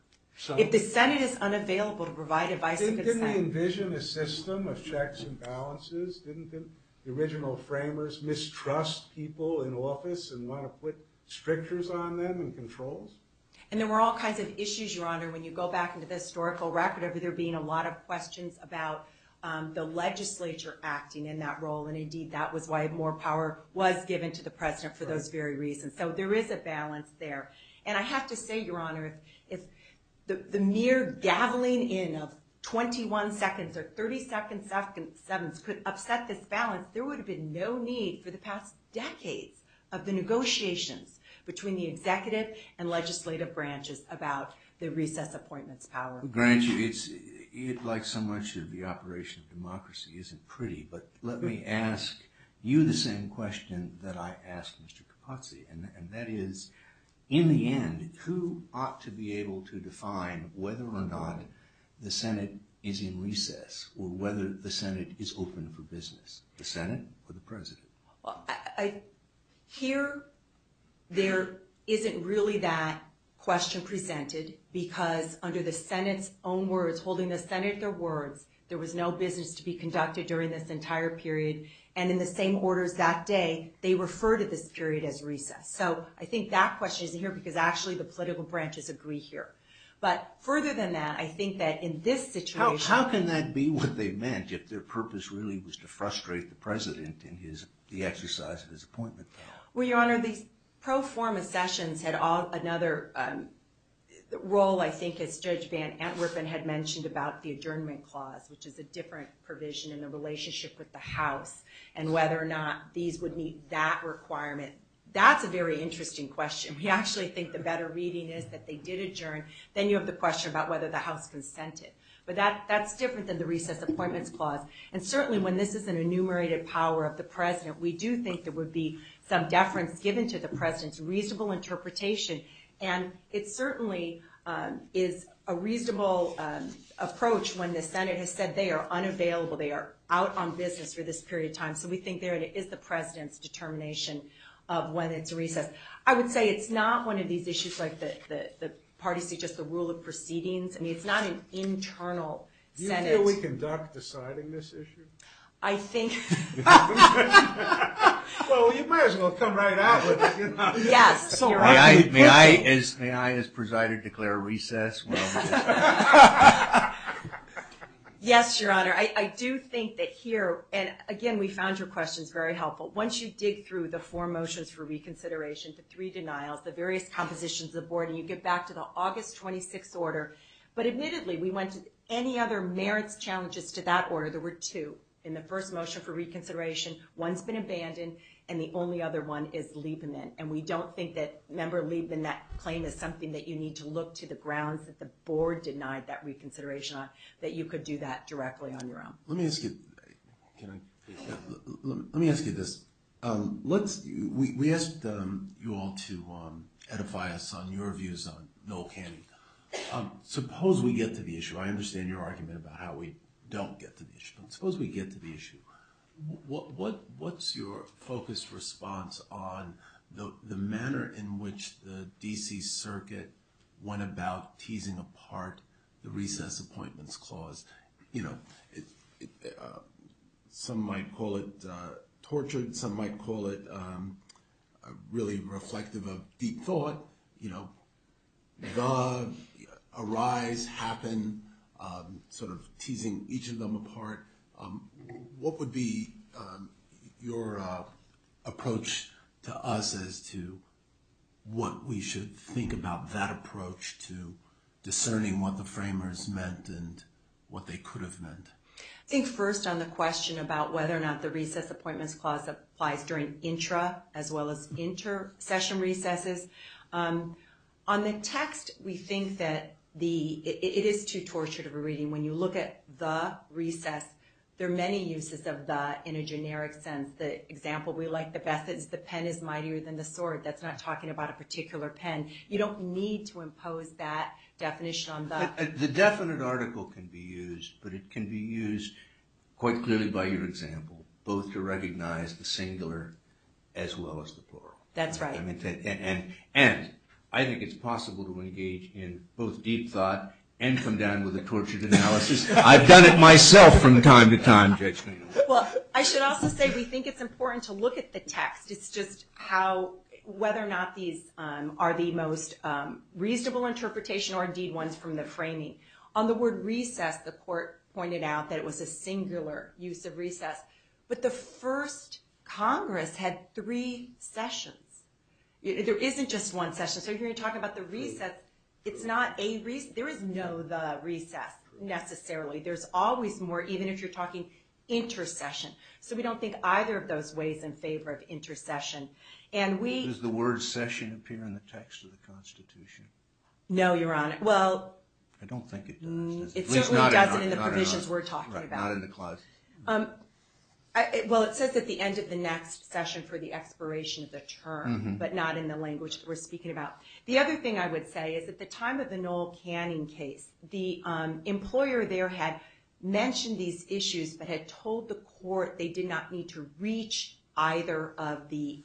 If the Senate is unavailable to provide advice and consent... Didn't they envision a system of checks and balances? Didn't the original framers mistrust people in office and want to put strictures on them and controls? And there were all kinds of issues, Your Honor, when you go back into the historical record of there being a lot of questions about the legislature acting in that role. And indeed, that was why more power was given to the President for those very reasons. So there is a balance there. And I have to say, Your Honor, if the mere dabbling in of 21 seconds or 30 seconds could upset this balance, there would have been no need for the past decades of the negotiations between the executive and legislative branches about the recess appointments power. Branch, it's like so much of the operation of democracy isn't pretty, but let me ask you the same question that I asked Mr. Capozzi. And that is, in the end, who ought to be able to define whether or not the Senate is in recess or whether the Senate is open for business? The Senate or the President? Here, there isn't really that question presented because under the Senate's own words, holding the Senate at their words, there was no business to be conducted during this entire period. And in the same orders that day, they refer to this period as recess. So I think that question isn't here because actually the political branches agree here. But further than that, I think that in this situation... How can that be what they meant if their purpose really was to frustrate the President in the exercise of his appointment? Well, Your Honor, the pro forma sessions had another role, I think, as Judge Van Antwerpen had mentioned about the adjournment clause, which is a different provision in the relationship with the House and whether or not these would meet that requirement. That's a very interesting question. We actually think the better reading is that they did adjourn. Then you have the question about whether the House consented. But that's different than the recess appointments clause. And certainly when this is an enumerated power of the President, we do think there would be some deference given to the President's reasonable interpretation. And it certainly is a reasonable approach when the Senate has said they are unavailable, they are out on business for this period of time. So we think there is the President's determination of when it's recess. I would say it's not one of these issues like the parties suggest the rule of proceedings. I mean, it's not an internal Senate... I think... Well, you might as well come right out with it. Yes, Your Honor. May I, as presided, declare recess? Yes, Your Honor. I do think that here, and again, we found your questions very helpful. Once you dig through the four motions for reconsideration, the three denials, the various compositions of the board, and you get back to the August 26th order. But admittedly, we went to any other merits challenges to that order where there were two. In the first motion for reconsideration, one's been abandoned, and the only other one is Liebman. And we don't think that... Remember, Liebman, that claim is something that you need to look to the grounds that the board denied that reconsideration on, that you could do that directly on your own. Let me ask you... Can I... Let me ask you this. Let's... We asked you all to edify us on your views on no candy. Suppose we get to the issue. I understand your argument about how we don't get to the issue, but suppose we get to the issue. What's your focused response on the manner in which the D.C. Circuit went about teasing apart the recess appointments clause? You know, some might call it tortured. Some might call it really reflective of deep thought. You know, the, arise, happen, sort of teasing each of them apart. What would be your approach to us as to what we should think about that approach to discerning what the framers meant and what they could have meant? I think first on the question about whether or not the recess appointments clause applies during intra- as well as inter-session recesses. On the text, we think that the... It is too tortured of a reading. When you look at the recess, there are many uses of the in a generic sense. The example we like the best is the pen is mightier than the sword. That's not talking about a particular pen. You don't need to impose that definition on the... The definite article can be used, but it can be used quite clearly by your example, both to recognize the singular as well as the plural. That's right. And I think it's possible to engage in both deep thought and come down with a tortured analysis. I've done it myself from time to time, Judge Maynard. Well, I should also say we think it's important to look at the text. It's just how, whether or not these are the most reasonable interpretation or indeed ones from the framing. that it was a singular use of recess. But the first Congress had three sessions. There isn't just one session. So you're going to talk about the recess. It's not a... There is no the recess necessarily. There's always more, even if you're talking intercession. So we don't think either of those ways in favor of intercession. And we... Does the word session appear in the text of the Constitution? No, Your Honor. Well... I don't think it does. It certainly doesn't in the provisions we're talking about. Not in the clause. Well, it says at the end of the next session for the expiration of the term, but not in the language that we're speaking about. The other thing I would say is at the time of the Noel Canning case, the employer there had mentioned these issues but had told the court they did not need to reach either of the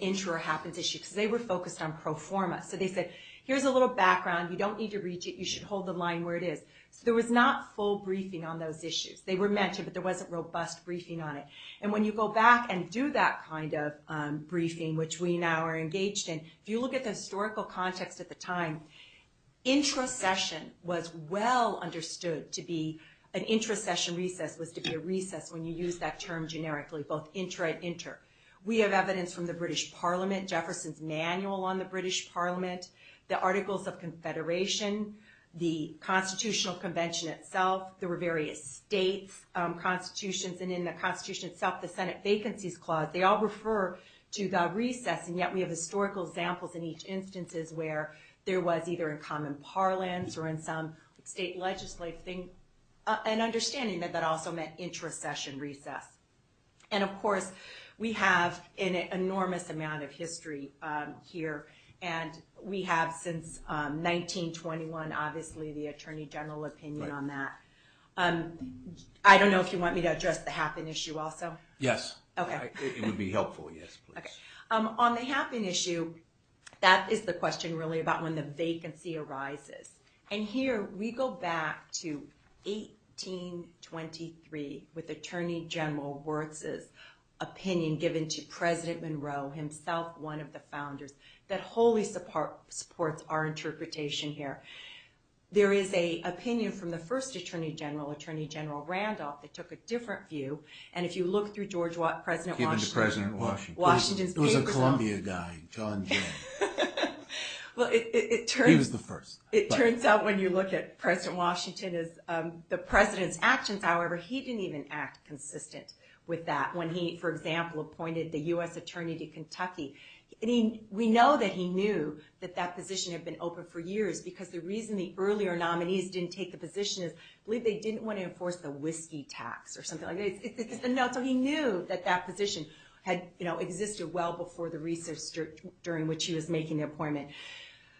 intro or happens issues because they were focused on pro forma. So they said, here's a little background. You don't need to reach it. You should hold the line where it is. So there was not full briefing on those issues. They were mentioned, but there wasn't robust briefing on it. And when you go back and do that kind of briefing, which we now are engaged in, if you look at the historical context at the time, introcession was well understood to be... An introcession recess was to be a recess when you use that term generically, both intra and inter. We have evidence from the British Parliament, Jefferson's Manual on the British Parliament, the Articles of Confederation, the Constitutional Convention itself. There were various states, constitutions, and in the Constitution itself, the Senate Vacancies Clause. They all refer to the recess, and yet we have historical examples in each instances where there was either in common parlance or in some state legislative thing, an understanding that that also meant introcession recess. And of course, we have an enormous amount of history here, and we have since 1921, obviously, the Attorney General opinion on that. I don't know if you want me to address the happen issue also? Yes. Okay. It would be helpful, yes, please. Okay. On the happen issue, that is the question really about when the vacancy arises. And here, we go back to 1823 with Attorney General Wertz's opinion given to President Monroe, himself one of the founders, that wholly supports our interpretation here. There is an opinion from the first Attorney General, Attorney General Randolph, that took a different view. And if you look through George Washington... Given to President Washington. Washington's papers... It was a Columbia guy, John Jay. Well, it turns... He was the first. It turns out when you look at President Washington, the President's actions, however, he didn't even act consistent with that when he, for example, appointed the U.S. Attorney to Kentucky. We know that he knew that that position had been open for years because the reason the earlier nominees didn't take the position is I believe they didn't want to enforce the whiskey tax or something like that. So he knew that that position had existed well before the recess during which he was making the appointment.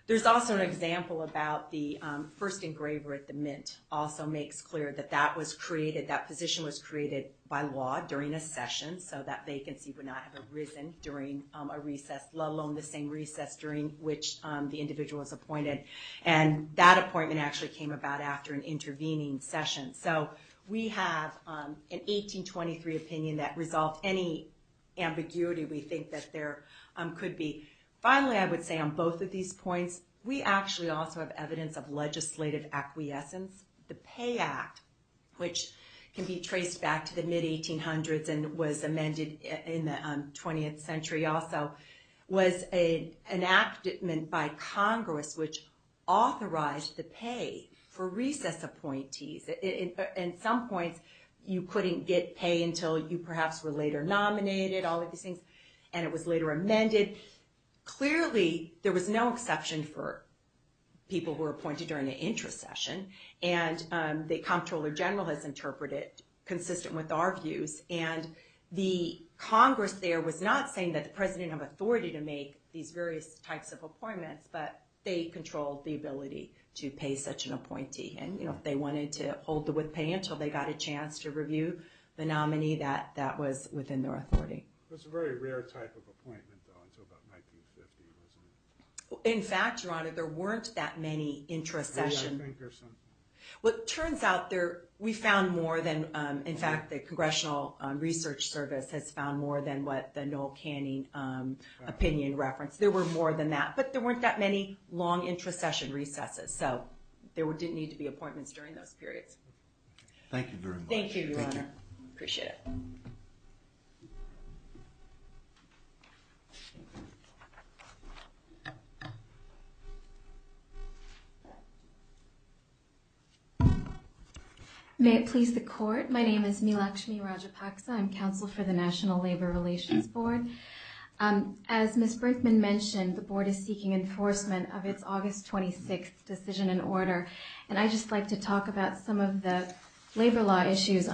There's also an example about the first engraver at the Mint also makes clear that that was created, that position was created by law during a session so that vacancy would not have arisen during a recess, let alone the same recess during which the individual was appointed. And that appointment actually came about after an intervening session. So we have an 1823 opinion that resolved any ambiguity we think that there could be. Finally, I would say on both of these points, we actually also have evidence of legislative acquiescence. The Pay Act, which can be traced back to the mid-1800s and was amended in the 20th century also, was an enactment by Congress which authorized the pay for recess appointees. At some point, you couldn't get pay until you perhaps were later nominated, all of these things, and it was later amended. Clearly, there was no exception for people who were appointed during the intra-session, and the Comptroller General has interpreted it consistent with our views. And the Congress there was not saying that the President had authority to make these various types of appointments, but they controlled the ability to pay such an appointee. And if they wanted to hold the with pay until they got a chance to review the nominee, that was within their authority. It was a very rare type of appointment, though, until about 1950, wasn't it? In fact, Your Honor, there weren't that many intra-sessions. Well, it turns out we found more than, in fact, the Congressional Research Service has found more than what the Noel Canning opinion referenced. There were more than that, but there weren't that many long intra-session recesses, so there didn't need to be appointments during those periods. Thank you very much. Thank you, Your Honor. Appreciate it. May it please the Court. My name is Milakshmi Rajapaksa. I'm counsel for the National Labor Relations Board. As Ms. Brinkman mentioned, the Board is seeking enforcement of its August 26th decision and order, and I'd just like to talk about some of the labor law issues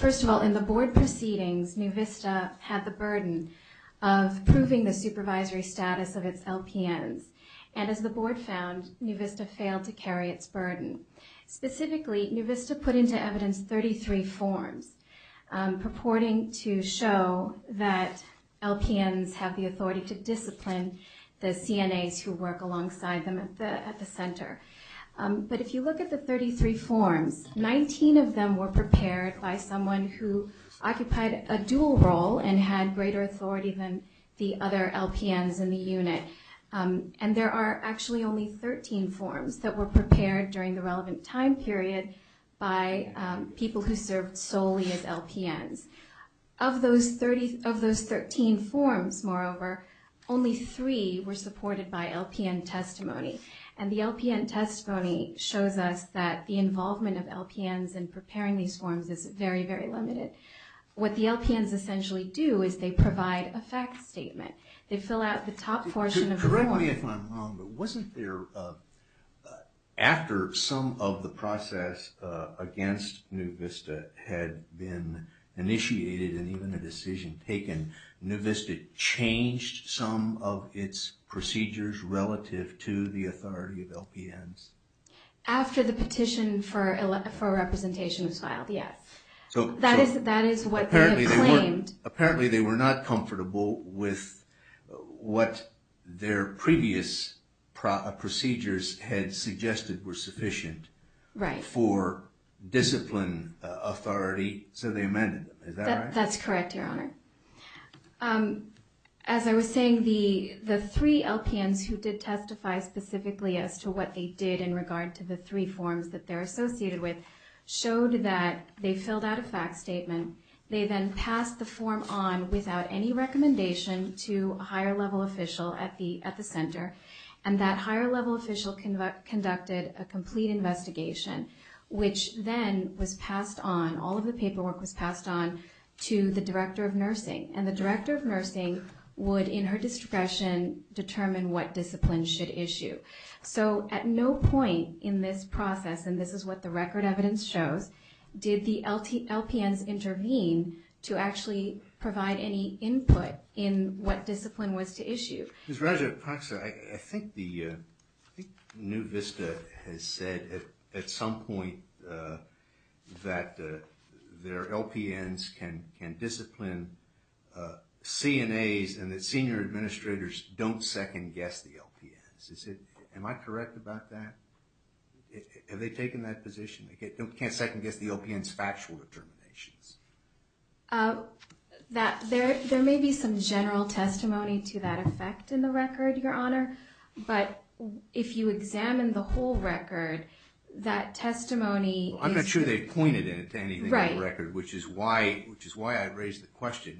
First of all, in the Board's decision and order, in the Board proceedings, NuVista had the burden of proving the supervisory status of its LPNs, and as the Board found, NuVista failed to carry its burden. Specifically, NuVista put into evidence 33 forms purporting to show that LPNs have the authority to discipline the CNAs who work alongside them at the Center. But if you look at the 33 forms, 19 of them were prepared by someone who occupied a dual role and had greater authority than the other LPNs in the unit, and there are actually only 13 forms that were prepared during the relevant time period by people who served solely as LPNs. Of those 13 forms, moreover, only three were supported by LPN testimony, and the LPN testimony shows us that the involvement of LPNs in preparing these forms is very, very limited. What the LPNs essentially do is they provide a fact statement. They fill out the top portion of the... Correct me if I'm wrong, but wasn't there, after some of the process against NuVista had been initiated and even a decision taken, NuVista changed some of its procedures relative to the authority of LPNs? After the petition for representation was filed, yes. That is what they had claimed. Apparently they were not comfortable with what their previous procedures had suggested were sufficient for discipline authority, so they amended them, is that right? That's correct, Your Honor. As I was saying, the three LPNs who did testify specifically as to what they did in regard to the three forms that they're associated with showed that they filled out a fact statement. They then passed the form on without any recommendation to a higher-level official at the center, and that higher-level official conducted a complete investigation, which then was passed on, all of the paperwork was passed on to the director of nursing, and the director of nursing would, in her discretion, determine what discipline should issue. So at no point in this process, and this is what the record evidence shows, did the LPNs intervene to actually provide any input in what discipline was to issue. Ms. Roger, I think NuVista has said at some point that their LPNs can discipline CNAs and that senior administrators don't second-guess the LPNs. Am I correct about that? Have they taken that position? They can't second-guess the LPNs' factual determinations. There may be some general testimony to that effect in the record, Your Honor, but if you examine the whole record, that testimony is... Well, I'm not sure they've pointed it to anything in the record, which is why I raised the question.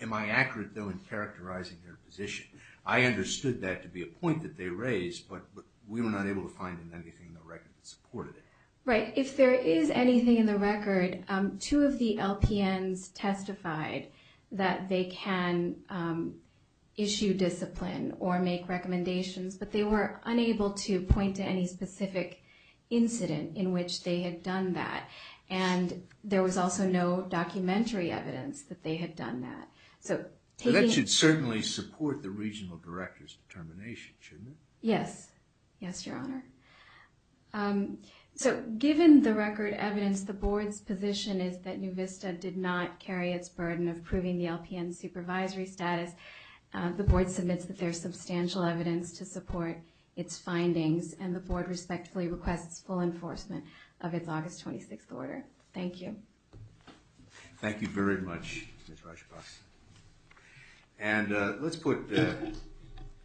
Am I accurate, though, in characterizing their position? I understood that to be a point that they raised, but we were not able to find anything in the record that supported it. Right. If there is anything in the record, two of the LPNs testified that they can issue discipline or make recommendations, but they were unable to point to any specific incident in which they had done that, and there was also no documentary evidence that they had done that. That should certainly support the regional director's determination, shouldn't it? Yes. Yes, Your Honor. So, given the record evidence, the Board's position is that NUVista did not carry its burden of proving the LPN's supervisory status. The Board submits that there is substantial evidence to support its findings, and the Board respectfully requests full enforcement of its August 26th order. Thank you. Thank you very much, Ms. Rajapaksa. And let's put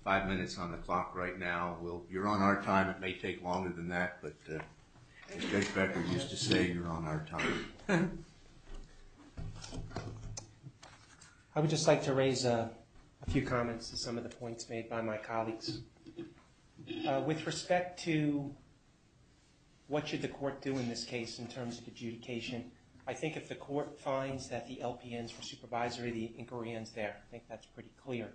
five minutes on the clock right now. You're on our time. It may take longer than that, but as Judge Becker used to say, you're on our time. I would just like to raise a few comments to some of the points made by my colleagues. With respect to what should the court do in this case in terms of adjudication, I think if the court finds that the LPNs were supervisory, the inquiry ends there. I think that's pretty clear.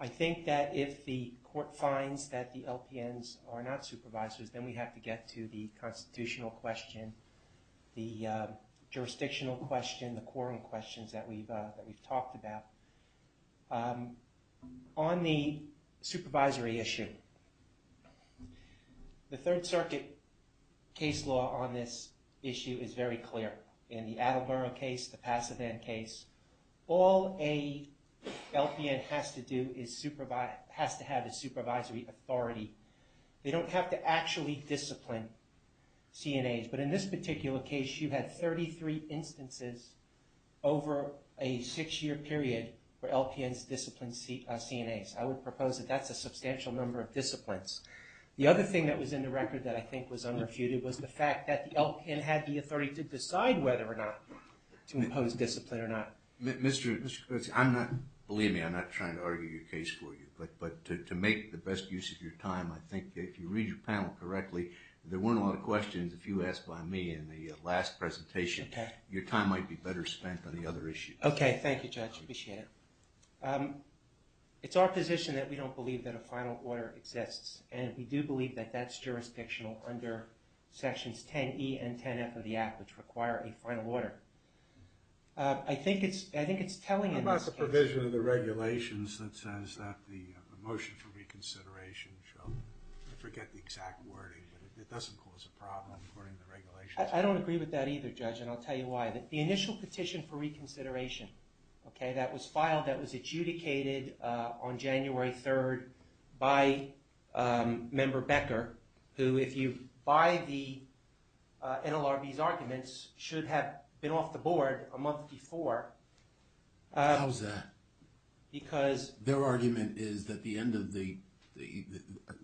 I think that if the court finds that the LPNs are not supervisors, then we have to get to the constitutional question, the jurisdictional question, the quorum questions that we've talked about. On the supervisory issue, the Third Circuit case law on this issue is very clear. In the Attleboro case, the Pasadena case, all a LPN has to do is supervise, has to have a supervisory authority. They don't have to actually discipline CNAs, but in this particular case, you had 33 instances over a six-year period where LPNs disciplined CNAs. I would propose that that's a substantial number of disciplines. The other thing that was in the record that I think was unrefuted was the fact that the LPN had the authority to decide whether or not to impose discipline or not. Believe me, I'm not trying to argue your case for you, but to make the best use of your time, I think if you read your panel correctly, there weren't a lot of questions. If you asked by me in the last presentation, your time might be better spent on the other issues. Okay, thank you, Judge. Appreciate it. It's our position that we don't believe that a final order exists, and we do believe that that's jurisdictional under Sections 10E and 10F of the Act, which require a final order. I think it's telling in this case. What about the provision of the regulations that says that the motion for reconsideration shall forget the exact wording, but it doesn't cause a problem according to the regulations? I don't agree with that either, Judge, but that's the motion, okay? That was filed, that was adjudicated on January 3rd by Member Becker, who, if you buy the NLRB's arguments, should have been off the board a month before. How's that? Because... Their argument is that the end of the...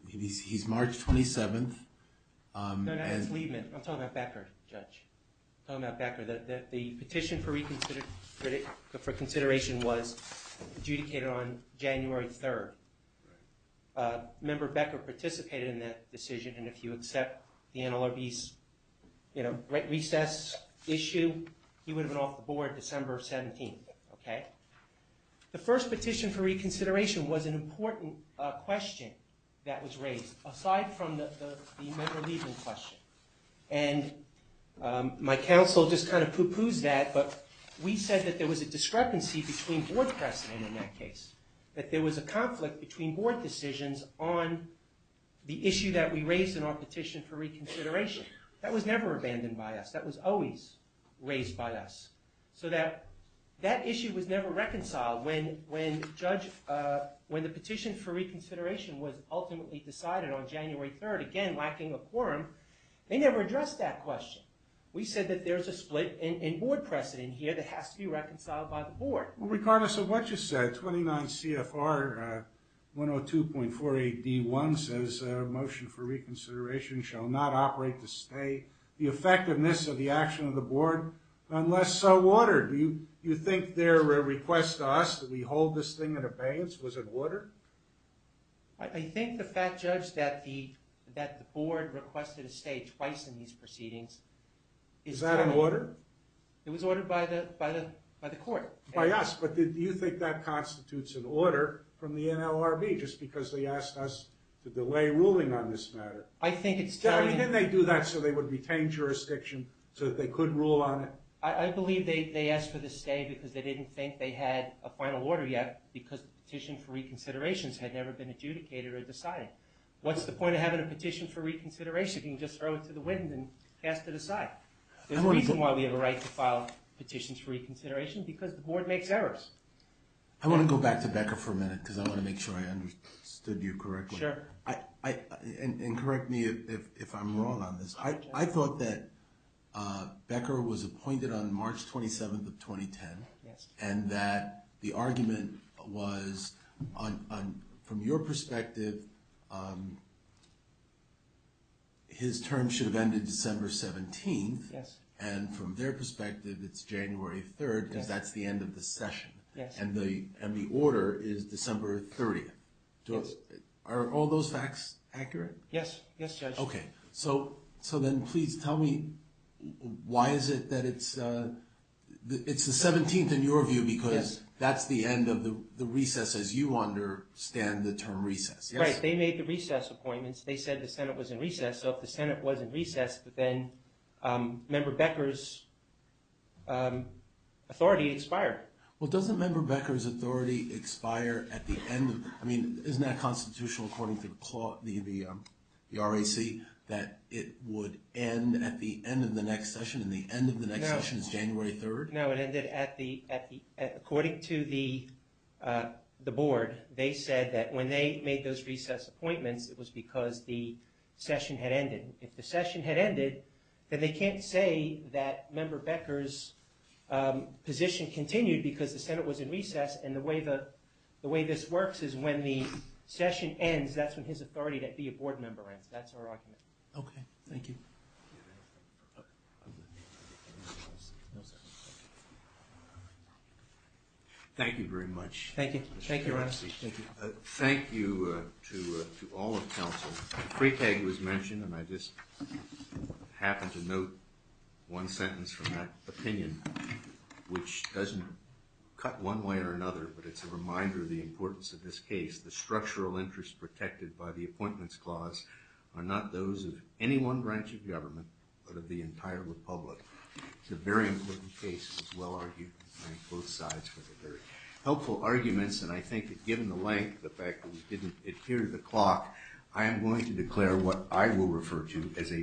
He's March 27th. No, no, that's Liebman. I'm talking about Becker, Judge. I'm talking about Becker. The motion for reconsideration was adjudicated on January 3rd. Member Becker participated in that decision, and if you accept the NLRB's recess issue, he would have been off the board December 17th, okay? The first petition for reconsideration was an important question that was raised, aside from the Member Liebman question. And my counsel just kind of poo-poos that, but we said that there was a discrepancy between board precedent in that case, that there was a conflict between board decisions on the issue that we raised in our petition for reconsideration. That was never abandoned by us. That was always raised by us. So that issue was never reconciled when the petition for reconsideration was ultimately decided on January 3rd, again, lacking a quorum. They never addressed that question. We said that there's a split in board precedent here that has to be reconciled by the board. Regardless of what you said, 29 CFR 102.48D1 says a motion for reconsideration shall not operate to stay the effectiveness of the action of the board unless so ordered. Do you think their request to us that we hold this thing in abeyance was in order? I think the fact, Judge, that the board requested to stay twice in these proceedings... Is that an order? It was ordered by the court. By us. But do you think that constitutes an order from the NLRB just because they asked us to delay ruling on this matter? Didn't they do that so they would retain jurisdiction so that they could rule on it? I believe they asked for the stay because they didn't think they had a final order yet because the petition for reconsideration had never been adjudicated or decided. What's the point of having a petition for reconsideration if you can just throw it to the wind and cast it aside? There's a reason why we have a right to file petitions for reconsideration because the board makes errors. I want to go back to Becker for a minute because I want to make sure I understood you correctly. And correct me if I'm wrong on this. I thought that Becker was appointed on March 27th of 2010 and that the argument from your perspective his term should have ended December 17th. And from their perspective it's January 3rd because that's the end of the session. And the order is December 30th. Are all those facts accurate? Yes, Judge. So then please tell me why is it that it's the 17th in your view because that's the end of the recess as you understand the term recess. Right, they made the recess appointments. They said the Senate was in recess. So if the Senate was in recess then Member Becker's authority expired. Well doesn't Member Becker's authority expire at the end? I mean isn't that constitutional according to the RAC that it would end at the end of the next session and the end of the next session is January 3rd? The Board, they said that when they made those recess appointments it was because the session had ended. If the session had ended then they can't say that Member Becker's position continued because the Senate was in recess and the way this works is when the session ends that's when his authority to be a Board member ends. That's our argument. Okay, thank you. Thank you. Thank you very much. Thank you. Thank you to all of counsel. Freitag was mentioned and I just happened to note one sentence from that opinion which doesn't cut one way or another but it's a reminder of the importance of this case. The structural interest protected by the appointments clause not only of the federal government but of the entire republic. It's a very important case as well argued by both sides with very helpful arguments and I think that given the length of the fact that we didn't adhere to the clock what I will refer to as a very important case. Thank you.